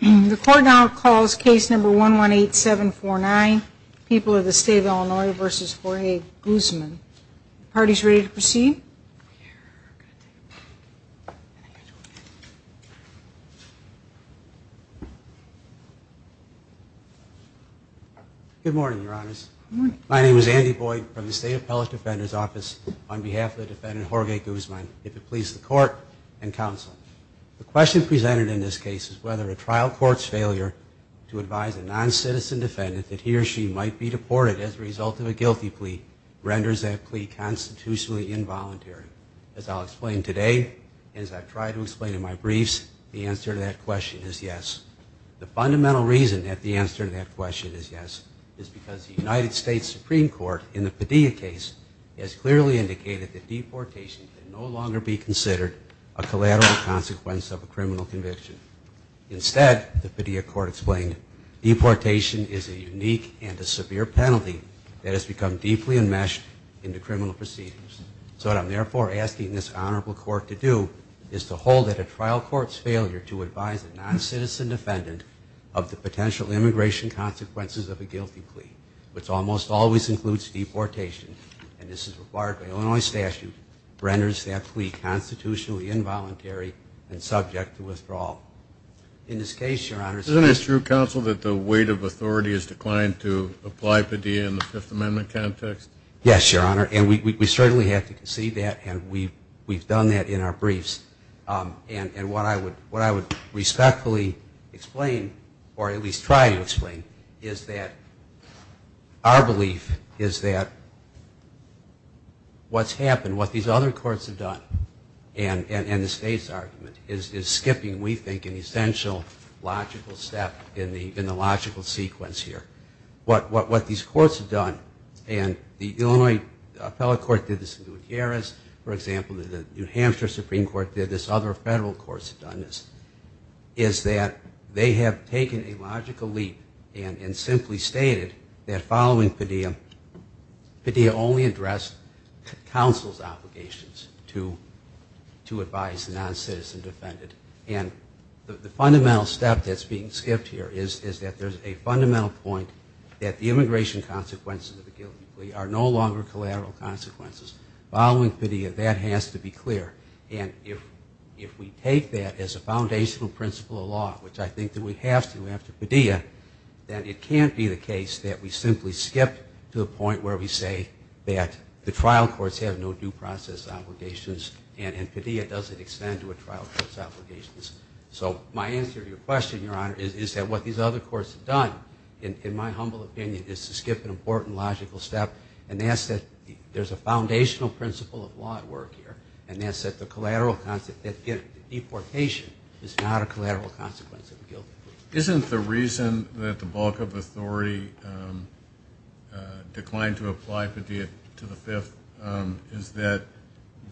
The court now calls case number 118749, People of the State of Illinois v. Jorge Guzman. The party is ready to proceed. Good morning, Your Honors. My name is Andy Boyd from the State Appellate Defender's Office. On behalf of the defendant, Jorge Guzman, if it pleases the court and counsel, the question presented in this case is whether a trial court's failure to advise a non-citizen defendant that he or she might be deported as a result of a guilty plea renders that plea constitutionally involuntary. As I'll explain today and as I've tried to explain in my briefs, the answer to that question is yes. The fundamental reason that the answer to that question is yes is because the United States Supreme Court in the Padilla case has clearly indicated that deportation can no longer be considered a collateral consequence of a criminal conviction. Instead, the Padilla court explained, deportation is a unique and a severe penalty that has become deeply enmeshed in the criminal proceedings. So what I'm therefore asking this honorable court to do is to hold that a trial court's failure to advise a non-citizen defendant of the potential immigration consequences of a guilty plea, which almost always includes deportation, and this is required by Illinois statute, renders that plea constitutionally involuntary and subject to withdrawal. In this case, Your Honor, Isn't it true, counsel, that the weight of authority has declined to apply Padilla in the Fifth Amendment context? Yes, Your Honor, and we certainly have to concede that, and we've done that in our briefs. And what I would respectfully explain, or at least try to explain, is that our belief is that what's happened, what these other courts have done, and the state's argument is skipping, we think, an essential logical step in the logical sequence here. What these courts have done, and the Illinois appellate court did this in Gutierrez, for example, and the New Hampshire Supreme Court did this, other federal courts have done this, is that they have taken a logical leap and simply stated that following Padilla, Padilla only addressed counsel's obligations to advise a non-citizen defendant. And the fundamental step that's being skipped here is that there's a fundamental point that the immigration consequences of a guilty plea are no longer collateral consequences. Following Padilla, that has to be clear. And if we take that as a foundational principle of law, which I think that we have to after Padilla, then it can't be the case that we simply skip to a point where we say that the trial courts have no due process obligations and Padilla doesn't extend to a trial court's obligations. So my answer to your question, Your Honor, is that what these other courts have done, in my humble opinion, is to skip an important logical step, and that's that there's a foundational principle of law at work here, and that's that deportation is not a collateral consequence of a guilty plea. Isn't the reason that the bulk of authority declined to apply Padilla to the Fifth is that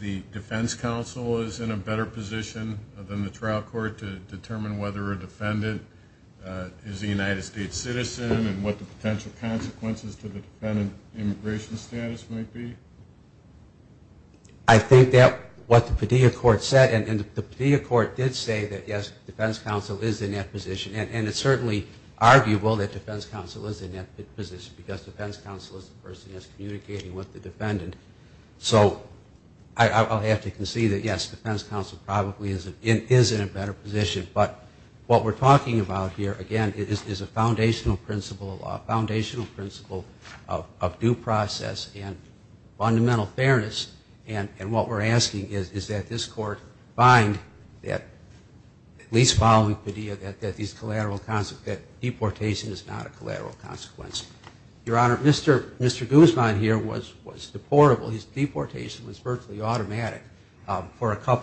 the defense counsel is in a better position than the trial court to determine whether a defendant is a United States citizen and what the potential consequences to the defendant's immigration status might be? I think that what the Padilla court said, and the Padilla court did say that, yes, the defense counsel is in that position, and it's certainly arguable that defense counsel is in that position because defense counsel is the person that's communicating with the defendant. So I'll have to concede that, yes, defense counsel probably is in a better position, but what we're talking about here, again, is a foundational principle of law, a foundational principle of due process and fundamental fairness, and what we're asking is that this court find that, at least following Padilla, that deportation is not a collateral consequence. Your Honor, Mr. Guzman here was deportable.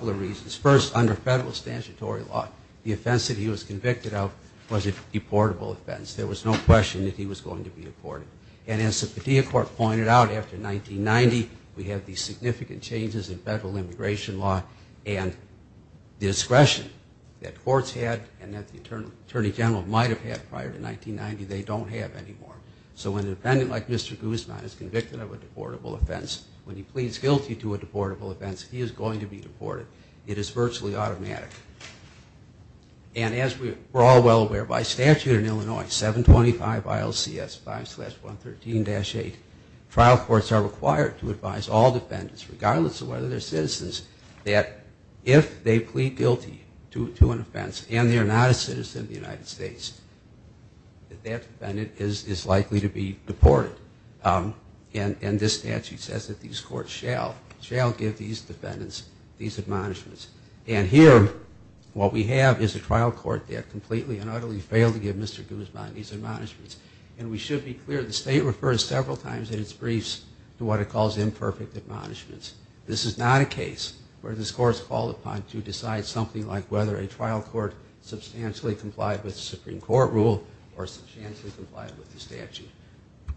When he was first under federal statutory law, the offense that he was convicted of was a deportable offense. There was no question that he was going to be deported. And as the Padilla court pointed out, after 1990, we have these significant changes in federal immigration law and the discretion that courts had and that the attorney general might have had prior to 1990, they don't have anymore. So when a defendant like Mr. Guzman is convicted of a deportable offense, when he pleads guilty to a deportable offense, he is going to be deported. It is virtually automatic. And as we're all well aware, by statute in Illinois, 725 ILCS 5-113-8, trial courts are required to advise all defendants, regardless of whether they're citizens, that if they plead guilty to an offense and they're not a citizen of the United States, that that defendant is likely to be deported. And this statute says that these courts shall give these defendants these admonishments. And here, what we have is a trial court that completely and utterly failed to give Mr. Guzman these admonishments. And we should be clear, the state refers several times in its briefs to what it calls imperfect admonishments. This is not a case where this court is called upon to decide something like whether a trial court substantially complied with the Supreme Court rule or substantially complied with the statute.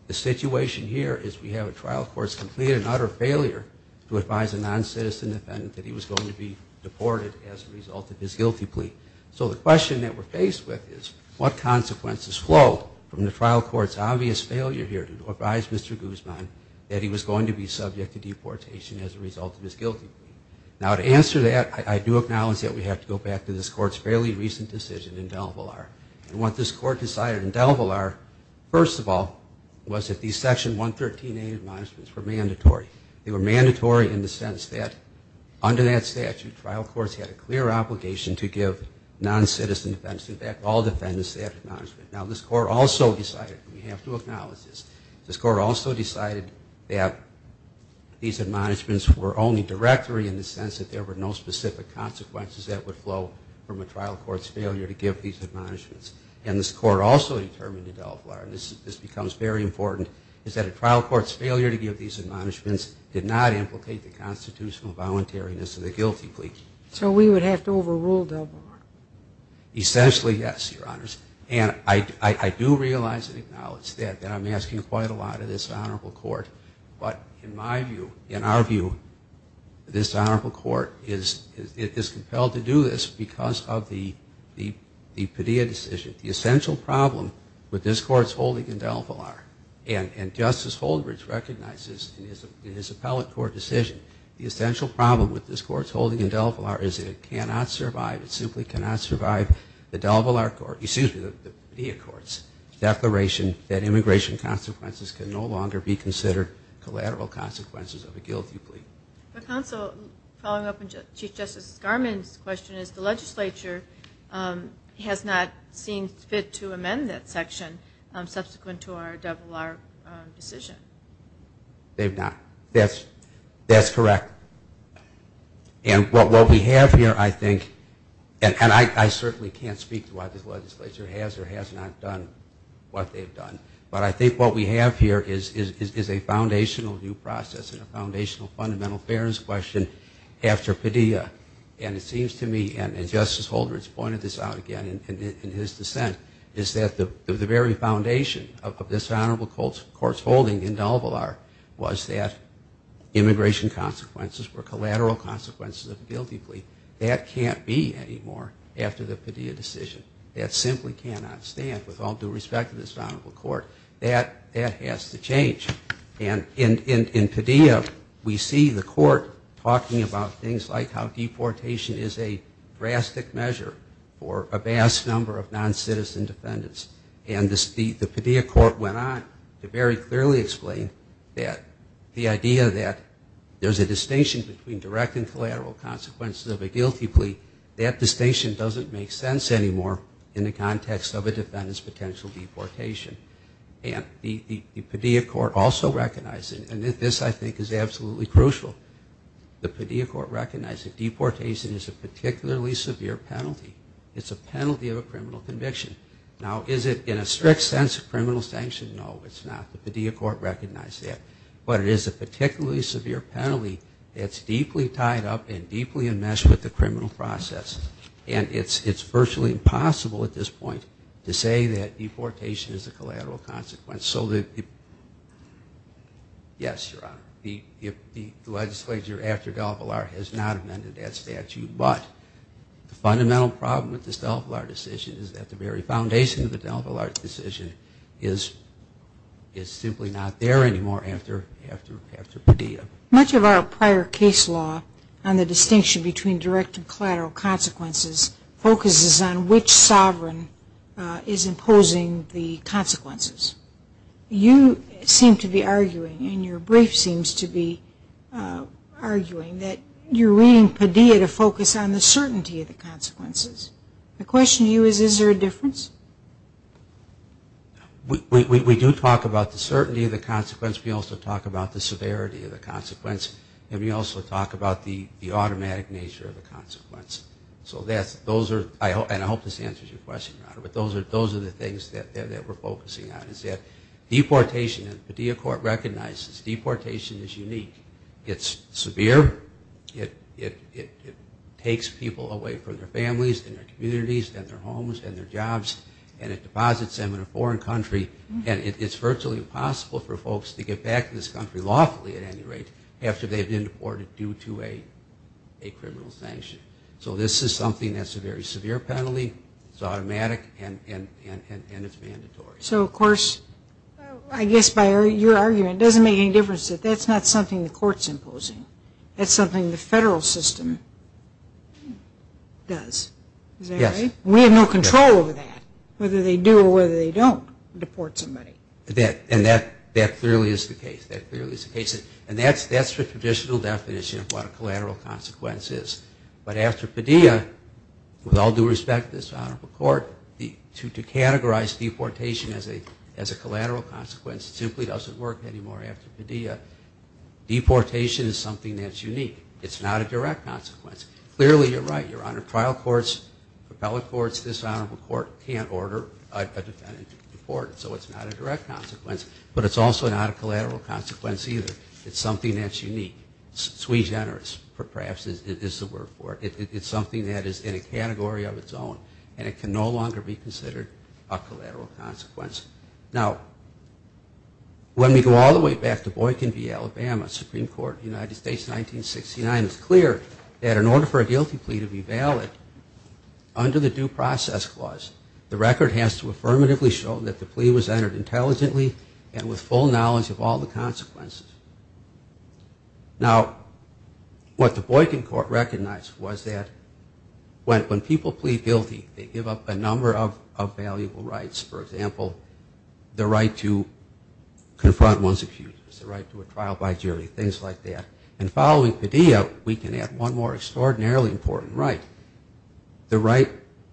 The situation here is we have a trial court's complete and utter failure to advise a non-citizen defendant that he was going to be deported as a result of his guilty plea. So the question that we're faced with is, what consequences flow from the trial court's obvious failure here to advise Mr. Guzman that he was going to be subject to deportation as a result of his guilty plea? Now, to answer that, I do acknowledge that we have to go back to this court's fairly recent decision in DelValar. And what this court decided in DelValar, first of all, was that these Section 113A admonishments were mandatory. They were mandatory in the sense that under that statute, trial courts had a clear obligation to give non-citizen defendants, in fact, all defendants, that admonishment. Now, this court also decided, we have to acknowledge this, this court also decided that these admonishments were only directory in the sense that there were no specific consequences that would flow from a trial court's failure to give these admonishments. And this court also determined in DelVar, and this becomes very important, is that a trial court's failure to give these admonishments did not implicate the constitutional voluntariness of the guilty plea. So we would have to overrule DelVar. Essentially, yes, Your Honors. And I do realize and acknowledge that I'm asking quite a lot of this honorable court. But in my view, in our view, this honorable court is compelled to do this because of the Padilla decision. The essential problem with this court's holding in DelVar, and Justice Holdridge recognizes in his appellate court decision, the essential problem with this court's holding in DelVar is that it cannot survive, it simply cannot survive the DelVar court, excuse me, the Padilla court's declaration that immigration consequences can no longer be considered collateral consequences of a guilty plea. Counsel, following up on Chief Justice Garmon's question, is the legislature has not seen fit to amend that section subsequent to our DelVar decision. They've not. That's correct. And what we have here, I think, and I certainly can't speak to why this legislature has or has not done what they've done, but I think what we have here is a foundational new process and a foundational fundamental fairness question after Padilla. And it seems to me, and Justice Holdridge pointed this out again in his dissent, is that the very foundation of this honorable court's holding in DelVar was that immigration consequences were collateral consequences of a guilty plea. That can't be anymore after the Padilla decision. That simply cannot stand with all due respect to this honorable court. That has to change. And in Padilla, we see the court talking about things like how deportation is a drastic measure for a vast number of noncitizen defendants. And the Padilla court went on to very clearly explain that the idea that there's a distinction between direct and collateral consequences of a guilty plea, that distinction doesn't make sense anymore in the context of a defendant's potential deportation. And the Padilla court also recognized, and this I think is absolutely crucial, the Padilla court recognized that deportation is a particularly severe penalty. It's a penalty of a criminal conviction. Now, is it in a strict sense a criminal sanction? No, it's not. The Padilla court recognized that. But it is a particularly severe penalty that's deeply tied up and deeply enmeshed with the criminal process. And it's virtually impossible at this point to say that deportation is a collateral consequence. Yes, Your Honor, the legislature after DelVar has not amended that statute, but the fundamental problem with this DelVar decision is that the very foundation to the DelVar decision is simply not there anymore after Padilla. Much of our prior case law on the distinction between direct and collateral consequences focuses on which sovereign is imposing the consequences. You seem to be arguing, and your brief seems to be arguing, that you're reading Padilla to focus on the certainty of the consequences. My question to you is, is there a difference? We do talk about the certainty of the consequence. We also talk about the severity of the consequence. And we also talk about the automatic nature of the consequence. So those are, and I hope this answers your question, Your Honor, but those are the things that we're focusing on is that deportation, the Padilla court recognizes deportation is unique. It's severe. It takes people away from their families and their communities and their homes and their jobs, and it deposits them in a foreign country. And it's virtually impossible for folks to get back to this country lawfully at any rate after they've been deported due to a criminal sanction. So this is something that's a very severe penalty. It's automatic, and it's mandatory. So, of course, I guess by your argument, it doesn't make any difference. That's not something the court's imposing. That's something the federal system does. Is that right? Yes. We have no control over that, whether they do or whether they don't deport somebody. And that clearly is the case. That clearly is the case. And that's the traditional definition of what a collateral consequence is. But after Padilla, with all due respect to this honorable court, to categorize deportation as a collateral consequence simply doesn't work anymore after Padilla. Deportation is something that's unique. It's not a direct consequence. Clearly you're right, Your Honor. Trial courts, appellate courts, this honorable court can't order a defendant to be deported. So it's not a direct consequence. But it's also not a collateral consequence either. It's something that's unique. Sui generis, perhaps, is the word for it. It's something that is in a category of its own, and it can no longer be considered a collateral consequence. Now, when we go all the way back to Boykin v. Alabama, Supreme Court of the United States, 1969, it's clear that in order for a guilty plea to be valid under the Due Process Clause, the record has to affirmatively show that the plea was entered intelligently and with full knowledge of all the consequences. Now, what the Boykin Court recognized was that when people plead guilty, they give up a number of valuable rights. For example, the right to confront one's accusers, the right to a trial by jury, things like that. And following Padilla, we can add one more extraordinarily important right, the right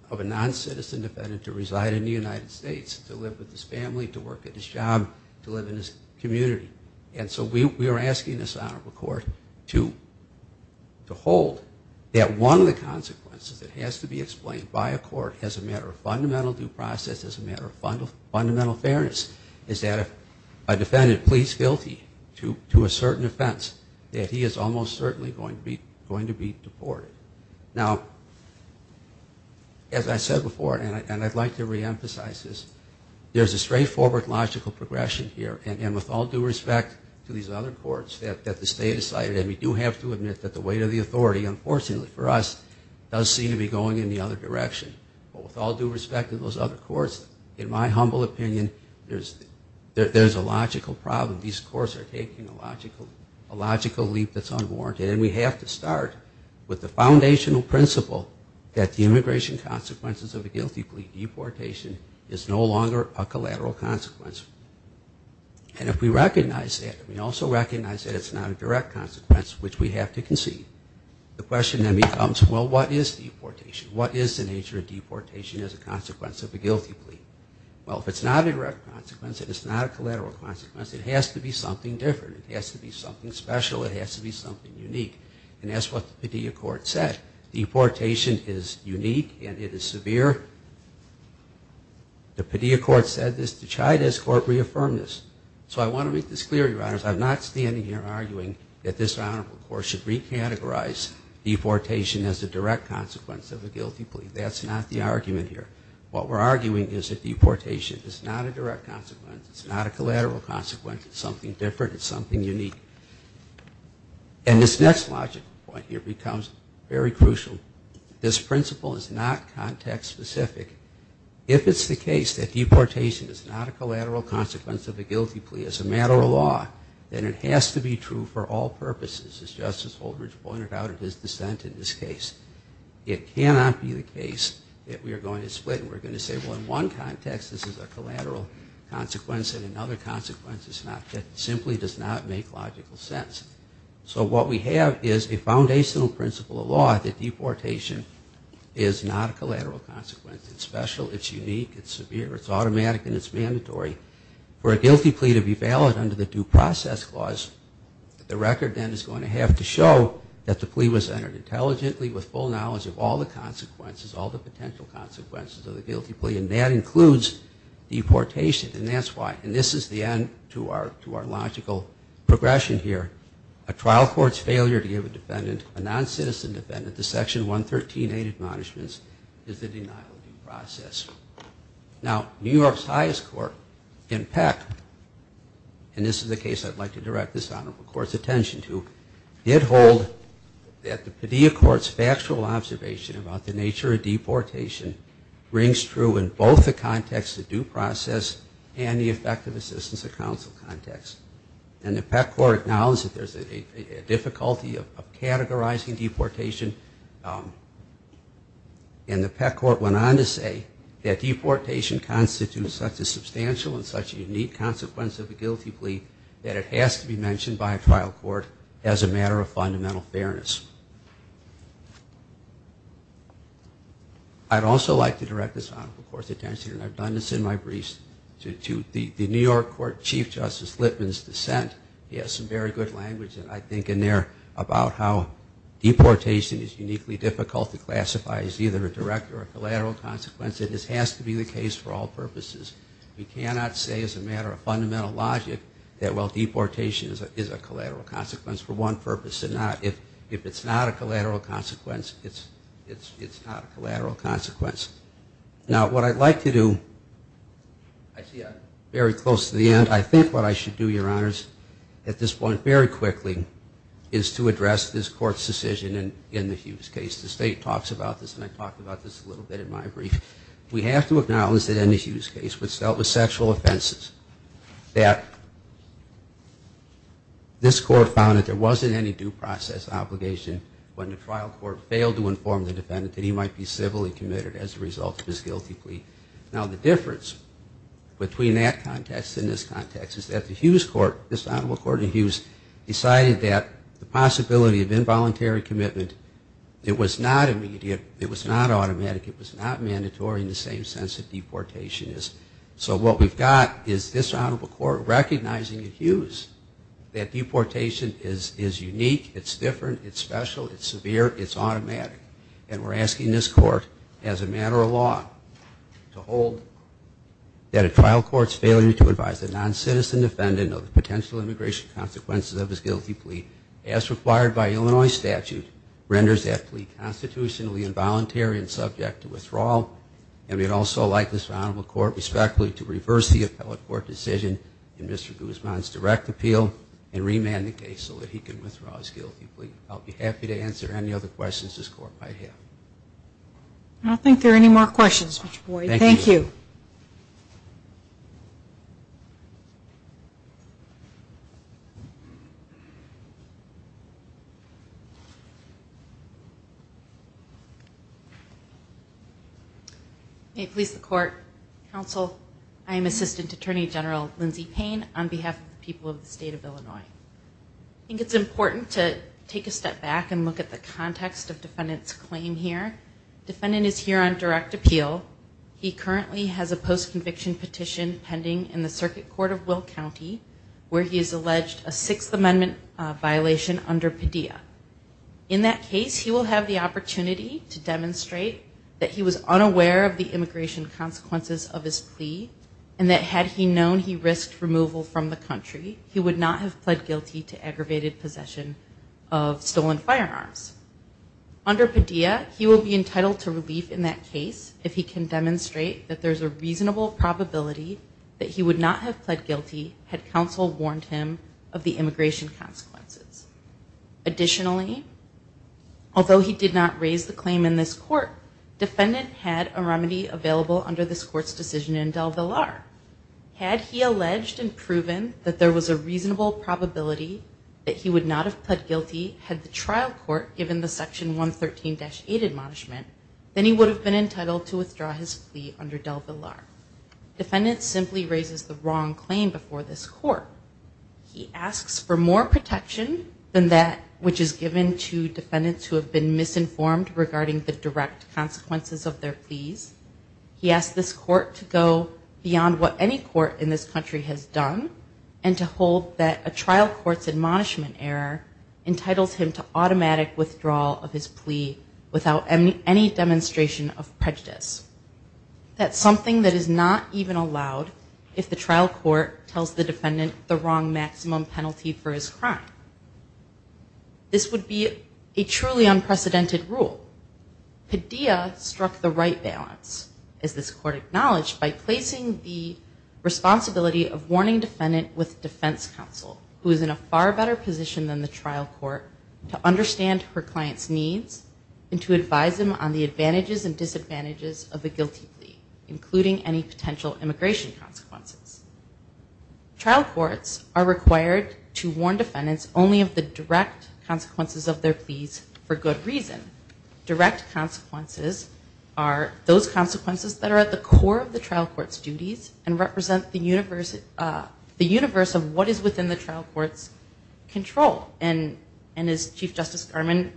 of a non-citizen defendant to reside in the United States, to live with his family, to work at his job, to live in his community. And so we are asking this honorable court to hold that one of the consequences that has to be explained by a court as a matter of fundamental due process, as a matter of fundamental fairness, is that if a defendant pleads guilty to a certain offense, that he is almost certainly going to be deported. Now, as I said before, and I'd like to reemphasize this, there's a straightforward logical progression here, and with all due respect to these other courts, that the state decided, and we do have to admit that the weight of the authority, unfortunately for us, does seem to be going in the other direction. But with all due respect to those other courts, in my humble opinion, there's a logical problem. These courts are taking a logical leap that's unwarranted, and we have to start with the foundational principle that the immigration consequences of a guilty plea deportation is no longer a collateral consequence. And if we recognize that, and we also recognize that it's not a direct consequence, which we have to concede, the question then becomes, well, what is deportation? What is the nature of deportation as a consequence of a guilty plea? Well, if it's not a direct consequence, if it's not a collateral consequence, it has to be something different. It has to be something special. It has to be something unique. And that's what the Padilla Court said. Deportation is unique, and it is severe. The Padilla Court said this. The Chavez Court reaffirmed this. So I want to make this clear, your honors. I'm not standing here arguing that this honorable court should recategorize deportation as a direct consequence of a guilty plea. That's not the argument here. What we're arguing is that deportation is not a direct consequence. It's not a collateral consequence. It's something different. It's something unique. And this next logical point here becomes very crucial. This principle is not context-specific. If it's the case that deportation is not a collateral consequence of a guilty plea, as a matter of law, then it has to be true for all purposes, as Justice Holdridge pointed out in his dissent in this case. It cannot be the case that we are going to split and we're going to say, well, in one context this is a collateral consequence and in another consequence it simply does not make logical sense. So what we have is a foundational principle of law that deportation is not a collateral consequence. It's special. It's unique. It's severe. It's automatic, and it's mandatory. For a guilty plea to be valid under the Due Process Clause, the record then is going to have to show that the plea was entered intelligently with full knowledge of all the consequences, all the potential consequences of the guilty plea, and that includes deportation, and that's why. And this is the end to our logical progression here. A trial court's failure to give a defendant, a non-citizen defendant, to Section 113A of the Admonishments is a denial of due process. Now, New York's highest court, in Peck, and this is the case I'd like to direct this Honorable Court's attention to, did hold that the Padilla Court's factual observation about the nature of deportation rings true in both the context of due process and the effective assistance of counsel context. And the Peck Court acknowledged that there's a difficulty of categorizing deportation, and the Peck Court went on to say that deportation constitutes such a substantial and such a unique consequence of a guilty plea that it has to be mentioned by a trial court as a matter of fundamental fairness. I'd also like to direct this Honorable Court's attention, and I've done this in my briefs, to the New York Court Chief Justice Litman's dissent. He has some very good language, and I think in there, about how deportation is uniquely difficult to classify as either a direct or a collateral consequence. It has to be the case for all purposes. We cannot say as a matter of fundamental logic that, well, deportation is a collateral consequence for one purpose or not. If it's not a collateral consequence, it's not a collateral consequence. Now, what I'd like to do, I see I'm very close to the end. I think what I should do, Your Honors, at this point very quickly, is to address this Court's decision in the Hughes case. The State talks about this, and I talked about this a little bit in my brief. We have to acknowledge that in the Hughes case, which dealt with sexual offenses, that this Court found that there wasn't any due process obligation when the trial court failed to inform the defendant that he might be civilly committed as a result of his guilty plea. Now, the difference between that context and this context is that the Hughes Court, this Honorable Court in Hughes, decided that the possibility of involuntary commitment, it was not immediate, it was not automatic, it was not mandatory in the same sense that deportation is. So what we've got is this Honorable Court recognizing in Hughes that deportation is unique, it's different, it's special, it's severe, it's automatic. And we're asking this Court, as a matter of law, to hold that a trial court's failure to advise a non-citizen defendant of the potential immigration consequences of his guilty plea, as required by Illinois statute, renders that plea constitutionally involuntary and subject to withdrawal. And we'd also like this Honorable Court, respectfully, to reverse the appellate court decision in Mr. Guzman's direct appeal and remand the case so that he can withdraw his guilty plea. I'll be happy to answer any other questions this Court might have. I don't think there are any more questions, Mr. Boyd. Thank you. May it please the Court, Counsel, I am Assistant Attorney General Lindsay Payne on behalf of the people of the State of Illinois. I think it's important to take a step back and look at the context of defendant's claim here. Defendant is here on direct appeal. He currently has a post-conviction petition pending in the Circuit Court of Will County where he has alleged a Sixth Amendment violation under Padilla. In that case, he will have the opportunity to demonstrate that he was unaware of the immigration consequences of his plea and that had he known he risked removal from the country, he would not have pled guilty to aggravated possession of stolen firearms. Under Padilla, he will be entitled to relief in that case if he can demonstrate that there's a reasonable probability that he would not have pled guilty had Counsel warned him of the immigration consequences. Additionally, although he did not raise the claim in this Court, defendant had a remedy available under this Court's decision in DelVillar. Had he alleged and proven that there was a reasonable probability that he would not have pled guilty had the trial court given the Section 113-8 admonishment, then he would have been entitled to withdraw his plea under DelVillar. Defendant simply raises the wrong claim before this Court. He asks for more protection than that which is given to defendants who have been misinformed regarding the direct consequences of their pleas. He asks this Court to go beyond what any court in this country has done and to hold that a trial court's admonishment error entitles him to automatic withdrawal of his plea without any demonstration of prejudice. That's something that is not even allowed if the trial court tells the defendant the wrong maximum penalty for his crime. This would be a truly unprecedented rule. Padilla struck the right balance, as this Court acknowledged, by placing the responsibility of warning defendant with defense counsel, who is in a far better position than the trial court, to understand her client's needs and to advise them on the advantages and disadvantages of a guilty plea, including any potential immigration consequences. Trial courts are required to warn defendants only of the direct consequences of their pleas for good reason. Direct consequences are those consequences that are at the core of the trial court's duties and represent the universe of what is within the trial court's control. And as Chief Justice Garmon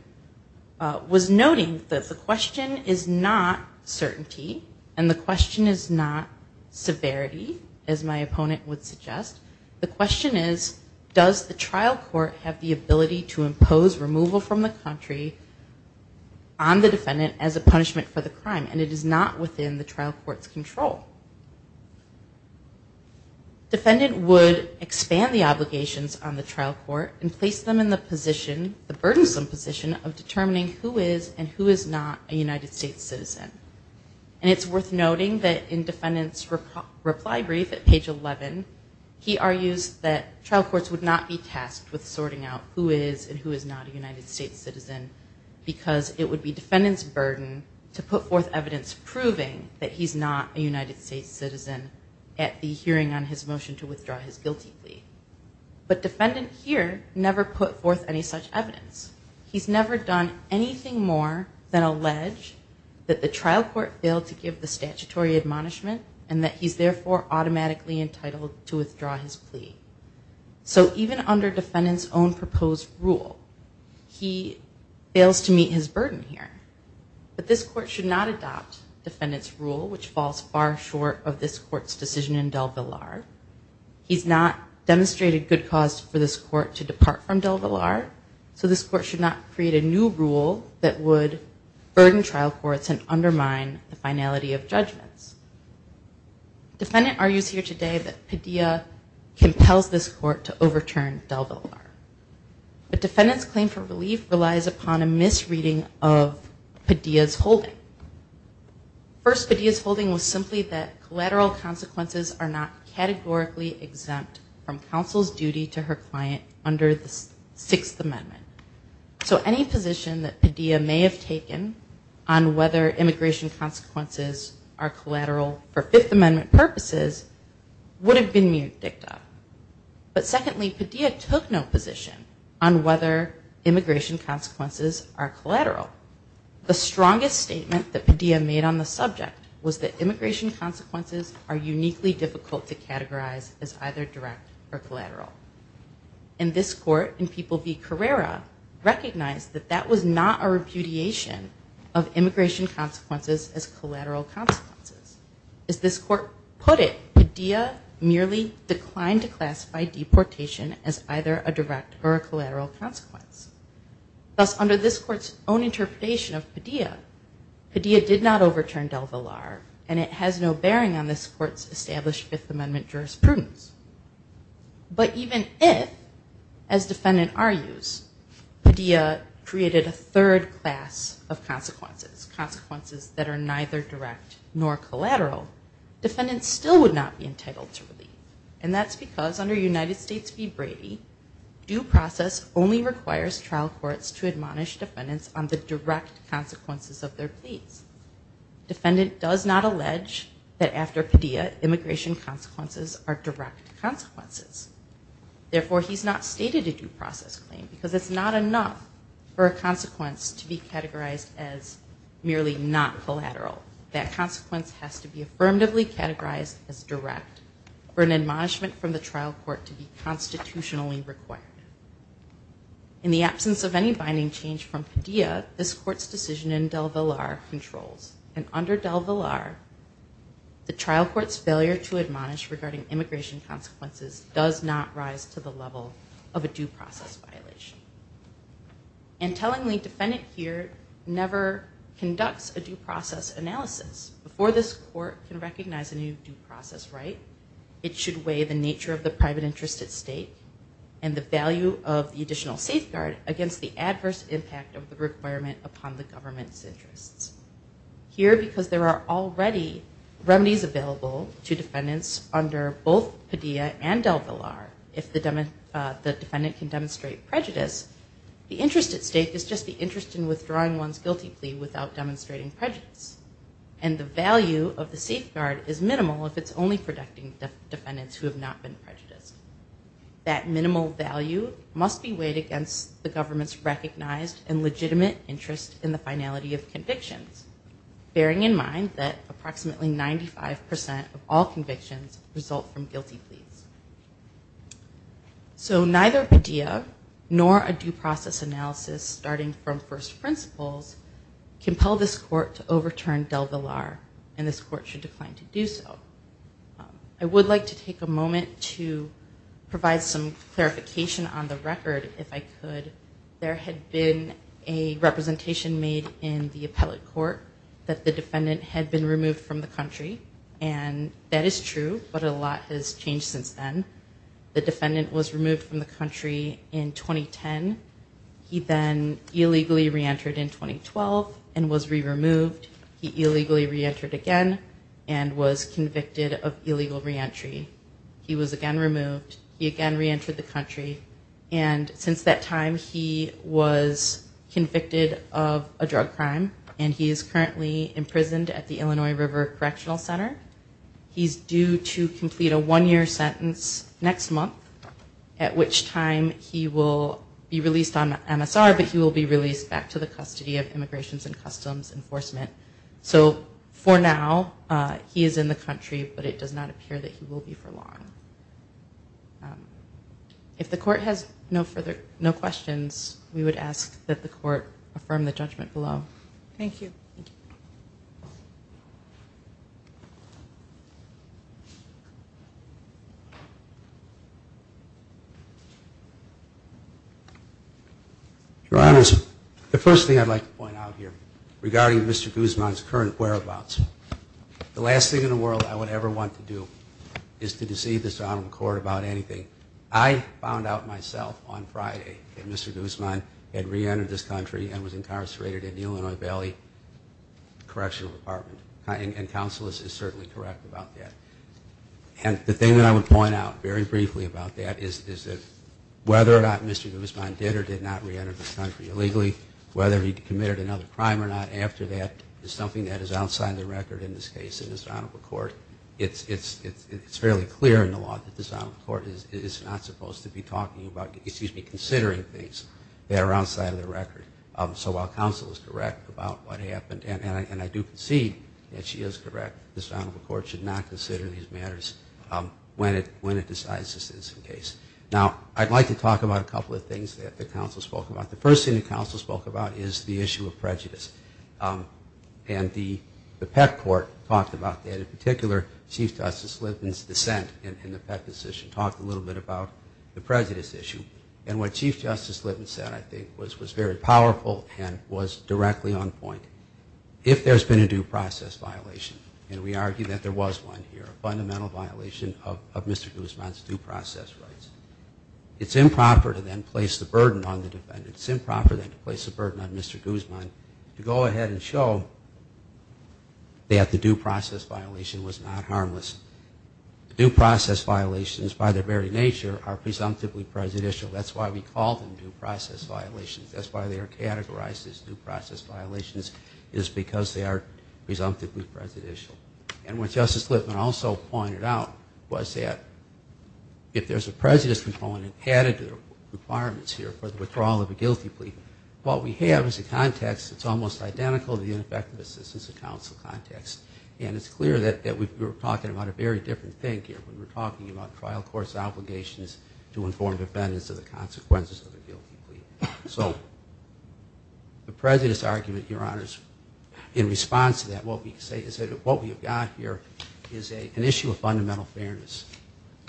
was noting, the question is not certainty and the question is not severity, as my opponent would suggest. The question is, does the trial court have the ability to impose removal from the country on the defendant as a punishment for the crime? And it is not within the trial court's control. Defendant would expand the obligations on the trial court and place them in the position, the burdensome position, of determining who is and who is not a United States citizen. And it's worth noting that in defendant's reply brief at page 11, he argues that trial courts would not be tasked with sorting out who is and who is not a United States citizen because it would be defendant's burden to put forth evidence proving that he's not a United States citizen at the hearing on his motion to withdraw his guilty plea. But defendant here never put forth any such evidence. He's never done anything more than allege that the trial court failed to give the statutory admonishment and that he's therefore automatically entitled to withdraw his plea. So even under defendant's own proposed rule, he fails to meet his burden here. But this court should not adopt defendant's rule, which falls far short of this court's decision in DelVillar. He's not demonstrated good cause for this court to depart from DelVillar, so this court should not create a new rule that would burden trial courts and undermine the finality of judgments. Defendant argues here today that Padilla compels this court to overturn DelVillar. But defendant's claim for relief relies upon a misreading of Padilla's holding. First, Padilla's holding was simply that collateral consequences are not categorically exempt from counsel's duty to her client under the Sixth Amendment. So any position that Padilla may have taken on whether immigration consequences are collateral for Fifth Amendment purposes would have been mute dicta. But secondly, Padilla took no position on whether immigration consequences are collateral. The strongest statement that Padilla made on the subject was that immigration consequences are uniquely difficult to categorize as either direct or collateral. And this court, in People v. Carrera, recognized that that was not a repudiation of immigration consequences as collateral consequences. As this court put it, Padilla merely declined to classify deportation as either a direct or a collateral consequence. Thus, under this court's own interpretation of Padilla, Padilla did not overturn DelVillar, and it has no bearing on this court's established Fifth Amendment jurisprudence. But even if, as defendant argues, Padilla created a third class of consequences, consequences that are neither direct nor collateral, defendants still would not be entitled to relief. And that's because under United States v. Brady, due process only requires trial courts to admonish defendants on the direct consequences of their pleas. Defendant does not allege that after Padilla, immigration consequences are direct consequences. Therefore, he's not stated a due process claim because it's not enough for a consequence to be categorized as merely not collateral. That consequence has to be affirmatively categorized as direct for an admonishment from the trial court to be constitutionally required. In the absence of any binding change from Padilla, this court's decision in DelVillar controls. And under DelVillar, the trial court's failure to admonish regarding immigration consequences does not rise to the level of a due process violation. And tellingly, defendant here never conducts a due process analysis. Before this court can recognize a new due process right, it should weigh the nature of the private interest at stake and the value of the additional safeguard against the adverse impact of the requirement upon the government's interests. Here, because there are already remedies available to defendants under both Padilla and DelVillar, if the defendant can demonstrate prejudice, the interest at stake is just the interest in withdrawing one's guilty plea without demonstrating prejudice. And the value of the safeguard is minimal if it's only protecting defendants who have not been prejudiced. That minimal value must be weighed against the government's recognized and legitimate interest in the finality of convictions, bearing in mind that approximately 95% of all convictions result from guilty pleas. So neither Padilla nor a due process analysis starting from first principles compel this court to overturn DelVillar, and this court should decline to do so. I would like to take a moment to provide some clarification on the record, if I could. There had been a representation made in the appellate court that the defendant had been removed from the country, and that is true, but a lot has changed since then. The defendant was removed from the country in 2010. He then illegally re-entered in 2012 and was re-removed. He illegally re-entered again and was convicted of illegal re-entry. He was again removed. He again re-entered the country, and since that time, he was convicted of a drug crime, and he is currently imprisoned at the Illinois River Correctional Center. He's due to complete a one-year sentence next month, at which time he will be released on MSR, but he will be released back to the custody of Immigrations and Customs Enforcement. So for now, he is in the country, but it does not appear that he will be for long. If the court has no questions, we would ask that the court affirm the judgment below. Thank you. Your Honors, the first thing I'd like to point out here, regarding Mr. Guzman's current whereabouts, the last thing in the world I would ever want to do is to deceive this Honorable Court about anything. I found out myself on Friday that Mr. Guzman had re-entered this country and was incarcerated at the Illinois Valley Correctional Department, and counsel is certainly correct about that. And the thing that I would point out very briefly about that is that whether or not Mr. Guzman did or did not re-enter this country illegally, whether he committed another crime or not after that is something that is outside of the record in this case. And as an Honorable Court, it's fairly clear in the law that this Honorable Court is not supposed to be talking about, excuse me, considering things that are outside of the record. So while counsel is correct about what happened, and I do concede that she is correct, this Honorable Court should not consider these matters when it decides this is the case. Now, I'd like to talk about a couple of things that the counsel spoke about. The first thing the counsel spoke about is the issue of prejudice. And the Peck Court talked about that in particular. Chief Justice Lipton's dissent in the Peck decision talked a little bit about the prejudice issue. And what Chief Justice Lipton said, I think, was very powerful and was directly on point. If there's been a due process violation, and we argue that there was one here, a fundamental violation of Mr. Guzman's due process rights, it's improper to then place the burden on the defendant. It's improper then to place the burden on Mr. Guzman to go ahead and show that the due process violation was not harmless. Due process violations, by their very nature, are presumptively prejudicial. That's why we call them due process violations. That's why they are categorized as due process violations is because they are presumptively prejudicial. And what Justice Lipton also pointed out was that if there's a prejudice component added to the requirements here for the withdrawal of a guilty plea, what we have is a context that's almost identical to the ineffective assistance of counsel context. And it's clear that we're talking about a very different thing here when we're talking about trial court's obligations to inform defendants of the consequences of a guilty plea. So the prejudice argument, Your Honors, in response to that, what we have got here is an issue of fundamental fairness.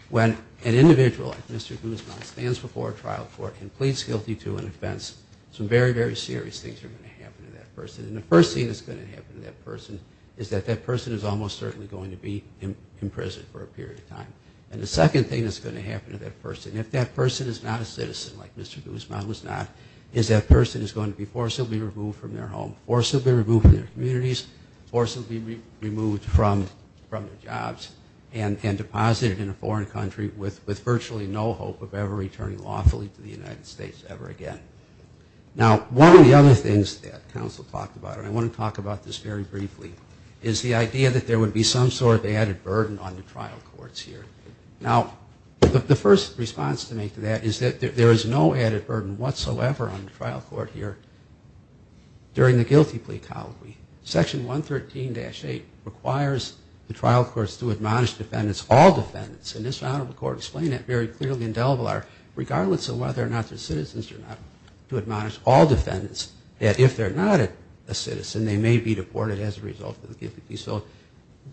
When an individual like Mr. Guzman stands before a trial court and pleads guilty to an offense, some very, very serious things are going to happen to that person. And the first thing that's going to happen to that person is that that person is almost certainly going to be in prison for a period of time. And the second thing that's going to happen to that person, if that person is not a citizen like Mr. Guzman was not, is that person is going to be forcibly removed from their home, forcibly removed from their communities, forcibly removed from their jobs, and deposited in a foreign country with virtually no hope of ever returning lawfully to the United States ever again. Now, one of the other things that counsel talked about, and I want to talk about this very briefly, is the idea that there would be some sort of added burden on the trial courts here. Now, the first response to make to that is that there is no added burden whatsoever on the trial court here during the guilty plea colloquy. Section 113-8 requires the trial courts to admonish defendants, all defendants, and this round of the court explained that very clearly in Delvillar, regardless of whether or not they're citizens or not, to admonish all defendants that if they're not a citizen, they may be deported as a result of the guilty plea. So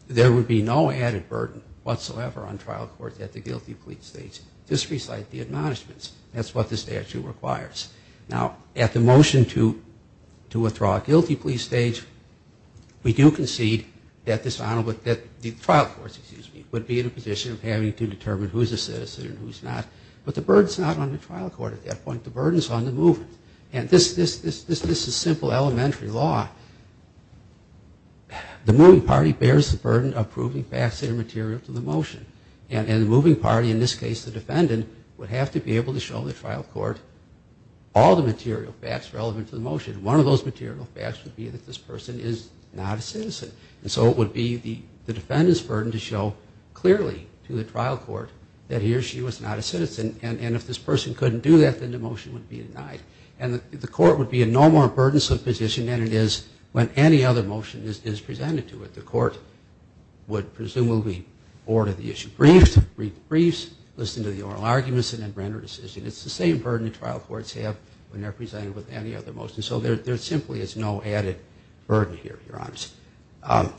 there would be no added burden whatsoever on trial courts at the guilty plea stage. Just recite the admonishments. That's what the statute requires. Now, at the motion to withdraw a guilty plea stage, we do concede that the trial courts would be in a position of having to determine who's a citizen and who's not. But the burden's not on the trial court at that point. The burden's on the movement. And this is simple elementary law. The moving party bears the burden of proving facts and material to the motion. And the moving party, in this case the defendant, would have to be able to show the trial court all the material facts relevant to the motion. One of those material facts would be that this person is not a citizen. And so it would be the defendant's burden to show clearly to the trial court that he or she was not a citizen. And if this person couldn't do that, then the motion would be denied. And the court would be in no more burdensome position than it is when any other motion is presented to it. The court would presumably order the issue briefed, read the briefs, listen to the oral arguments, and then render a decision. It's the same burden the trial courts have when they're presented with any other motion. So there simply is no added burden here, Your Honor.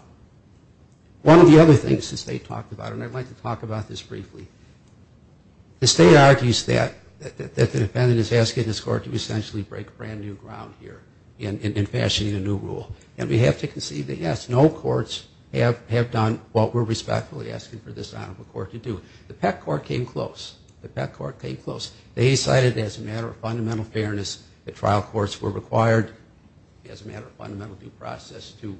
One of the other things the State talked about, and I'd like to talk about this briefly, the State argues that the defendant is asking this court to essentially break brand new ground here in fashioning a new rule. And we have to concede that, yes, no courts have done what we're respectfully asking for this honorable court to do. The Peck Court came close. The Peck Court came close. They decided as a matter of fundamental fairness the trial courts were required as a matter of fundamental due process to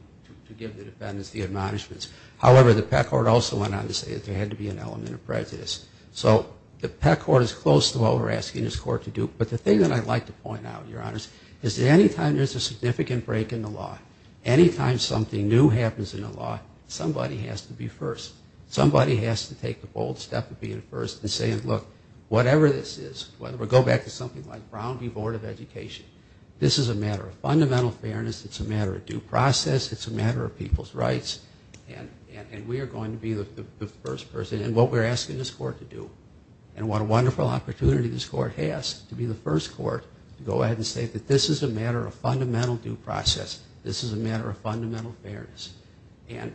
give the defendants the admonishments. However, the Peck Court also went on to say that there had to be an element of prejudice. So the Peck Court is close to what we're asking this court to do. But the thing that I'd like to point out, Your Honors, is that any time there's a significant break in the law, any time something new happens in the law, somebody has to be first. Somebody has to take the bold step of being first and saying, look, whatever this is, whether we go back to something like Brown v. Board of Education, this is a matter of fundamental fairness, it's a matter of due process, it's a matter of people's rights, and we are going to be the first person. And what we're asking this court to do, and what a wonderful opportunity this court has to be the first court to go ahead and say that this is a matter of fundamental due process, this is a matter of fundamental fairness. And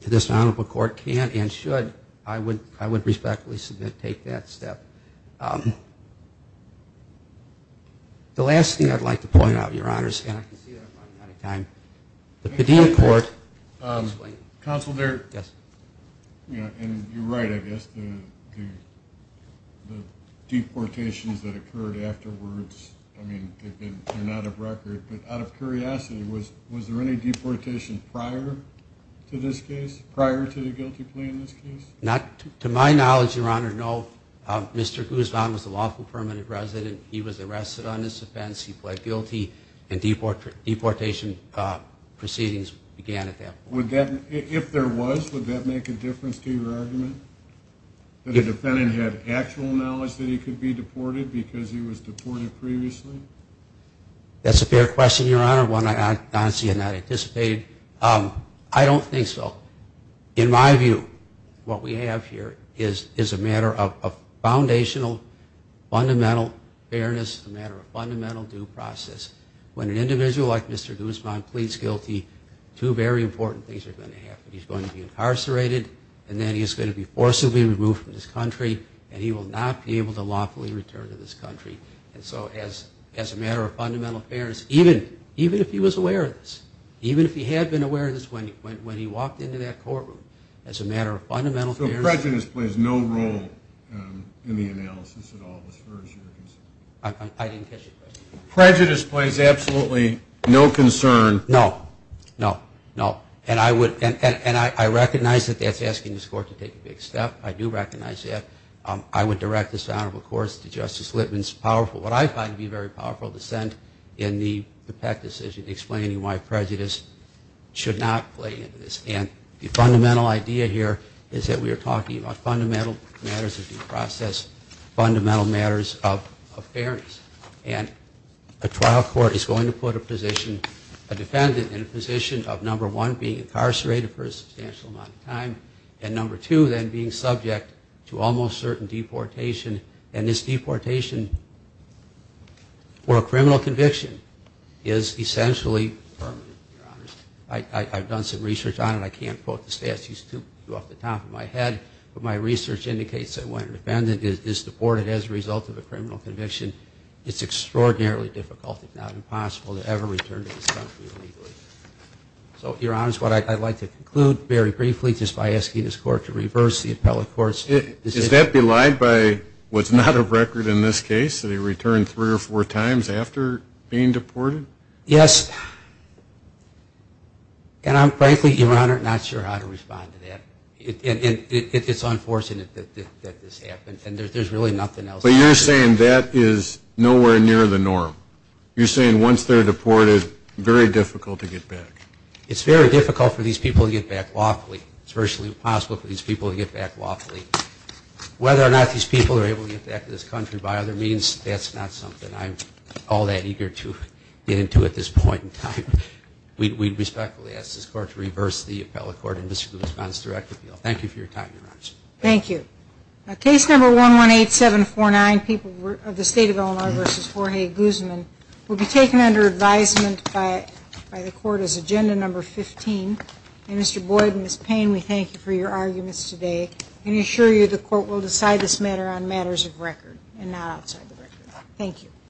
this honorable court can and should, I would respectfully submit, take that step. The last thing I'd like to point out, Your Honors, and I can see that I'm running out of time, the Padilla Court. Counsel, you're right, I guess, the deportations that occurred afterwards, I mean, they're not of record, but out of curiosity, was there any deportation prior to this case, prior to the guilty plea in this case? To my knowledge, Your Honor, no. Mr. Guzman was a lawful permanent resident, he was arrested on this offense, he pled guilty, and deportation proceedings began at that point. If there was, would that make a difference to your argument, that a defendant had actual knowledge that he could be deported because he was deported previously? That's a fair question, Your Honor, one I honestly had not anticipated. I don't think so. In my view, what we have here is a matter of foundational, fundamental fairness, a matter of fundamental due process. When an individual like Mr. Guzman pleads guilty, two very important things are going to happen. He's going to be incarcerated, and then he's going to be forcibly removed from this country, and he will not be able to lawfully return to this country. And so as a matter of fundamental fairness, even if he was aware of this, even if he had been aware of this when he walked into that courtroom, as a matter of fundamental fairness. So prejudice plays no role in the analysis at all, as far as you're concerned? I didn't catch your question. Prejudice plays absolutely no concern. No, no, no. And I recognize that that's asking this Court to take a big step, I do recognize that. I would direct this Honorable Court to Justice Litman's powerful, what I find to be very powerful, dissent in the Peck decision, explaining why prejudice should not play into this. And the fundamental idea here is that we are talking about fundamental matters of due process, fundamental matters of fairness. And a trial court is going to put a position, a defendant in a position of, number one, being incarcerated for a substantial amount of time, and, number two, then being subject to almost certain deportation. And this deportation for a criminal conviction is essentially permanent. I've done some research on it. I can't quote the statutes off the top of my head, but my research indicates that when a defendant is deported as a result of a criminal conviction, it's extraordinarily difficult, if not impossible, to ever return to this country illegally. So, Your Honors, what I'd like to conclude very briefly, just by asking this Court to reverse the appellate court's decision. Is that belied by what's not a record in this case, that he returned three or four times after being deported? Yes. And I'm frankly, Your Honor, not sure how to respond to that. It's unfortunate that this happened, and there's really nothing else. But you're saying that is nowhere near the norm. You're saying once they're deported, very difficult to get back. It's very difficult for these people to get back lawfully. It's virtually impossible for these people to get back lawfully. Whether or not these people are able to get back to this country by other means, that's not something I'm all that eager to get into at this point in time. We respectfully ask this Court to reverse the appellate court and Mr. Guzman's direct appeal. Thank you for your time, Your Honors. Thank you. Case number 118749, People of the State of Illinois v. Jorge Guzman, will be taken under advisement by the Court as Agenda Number 15. Mr. Boyd and Ms. Payne, we thank you for your arguments today and assure you the Court will decide this matter on matters of record and not outside the record. Thank you.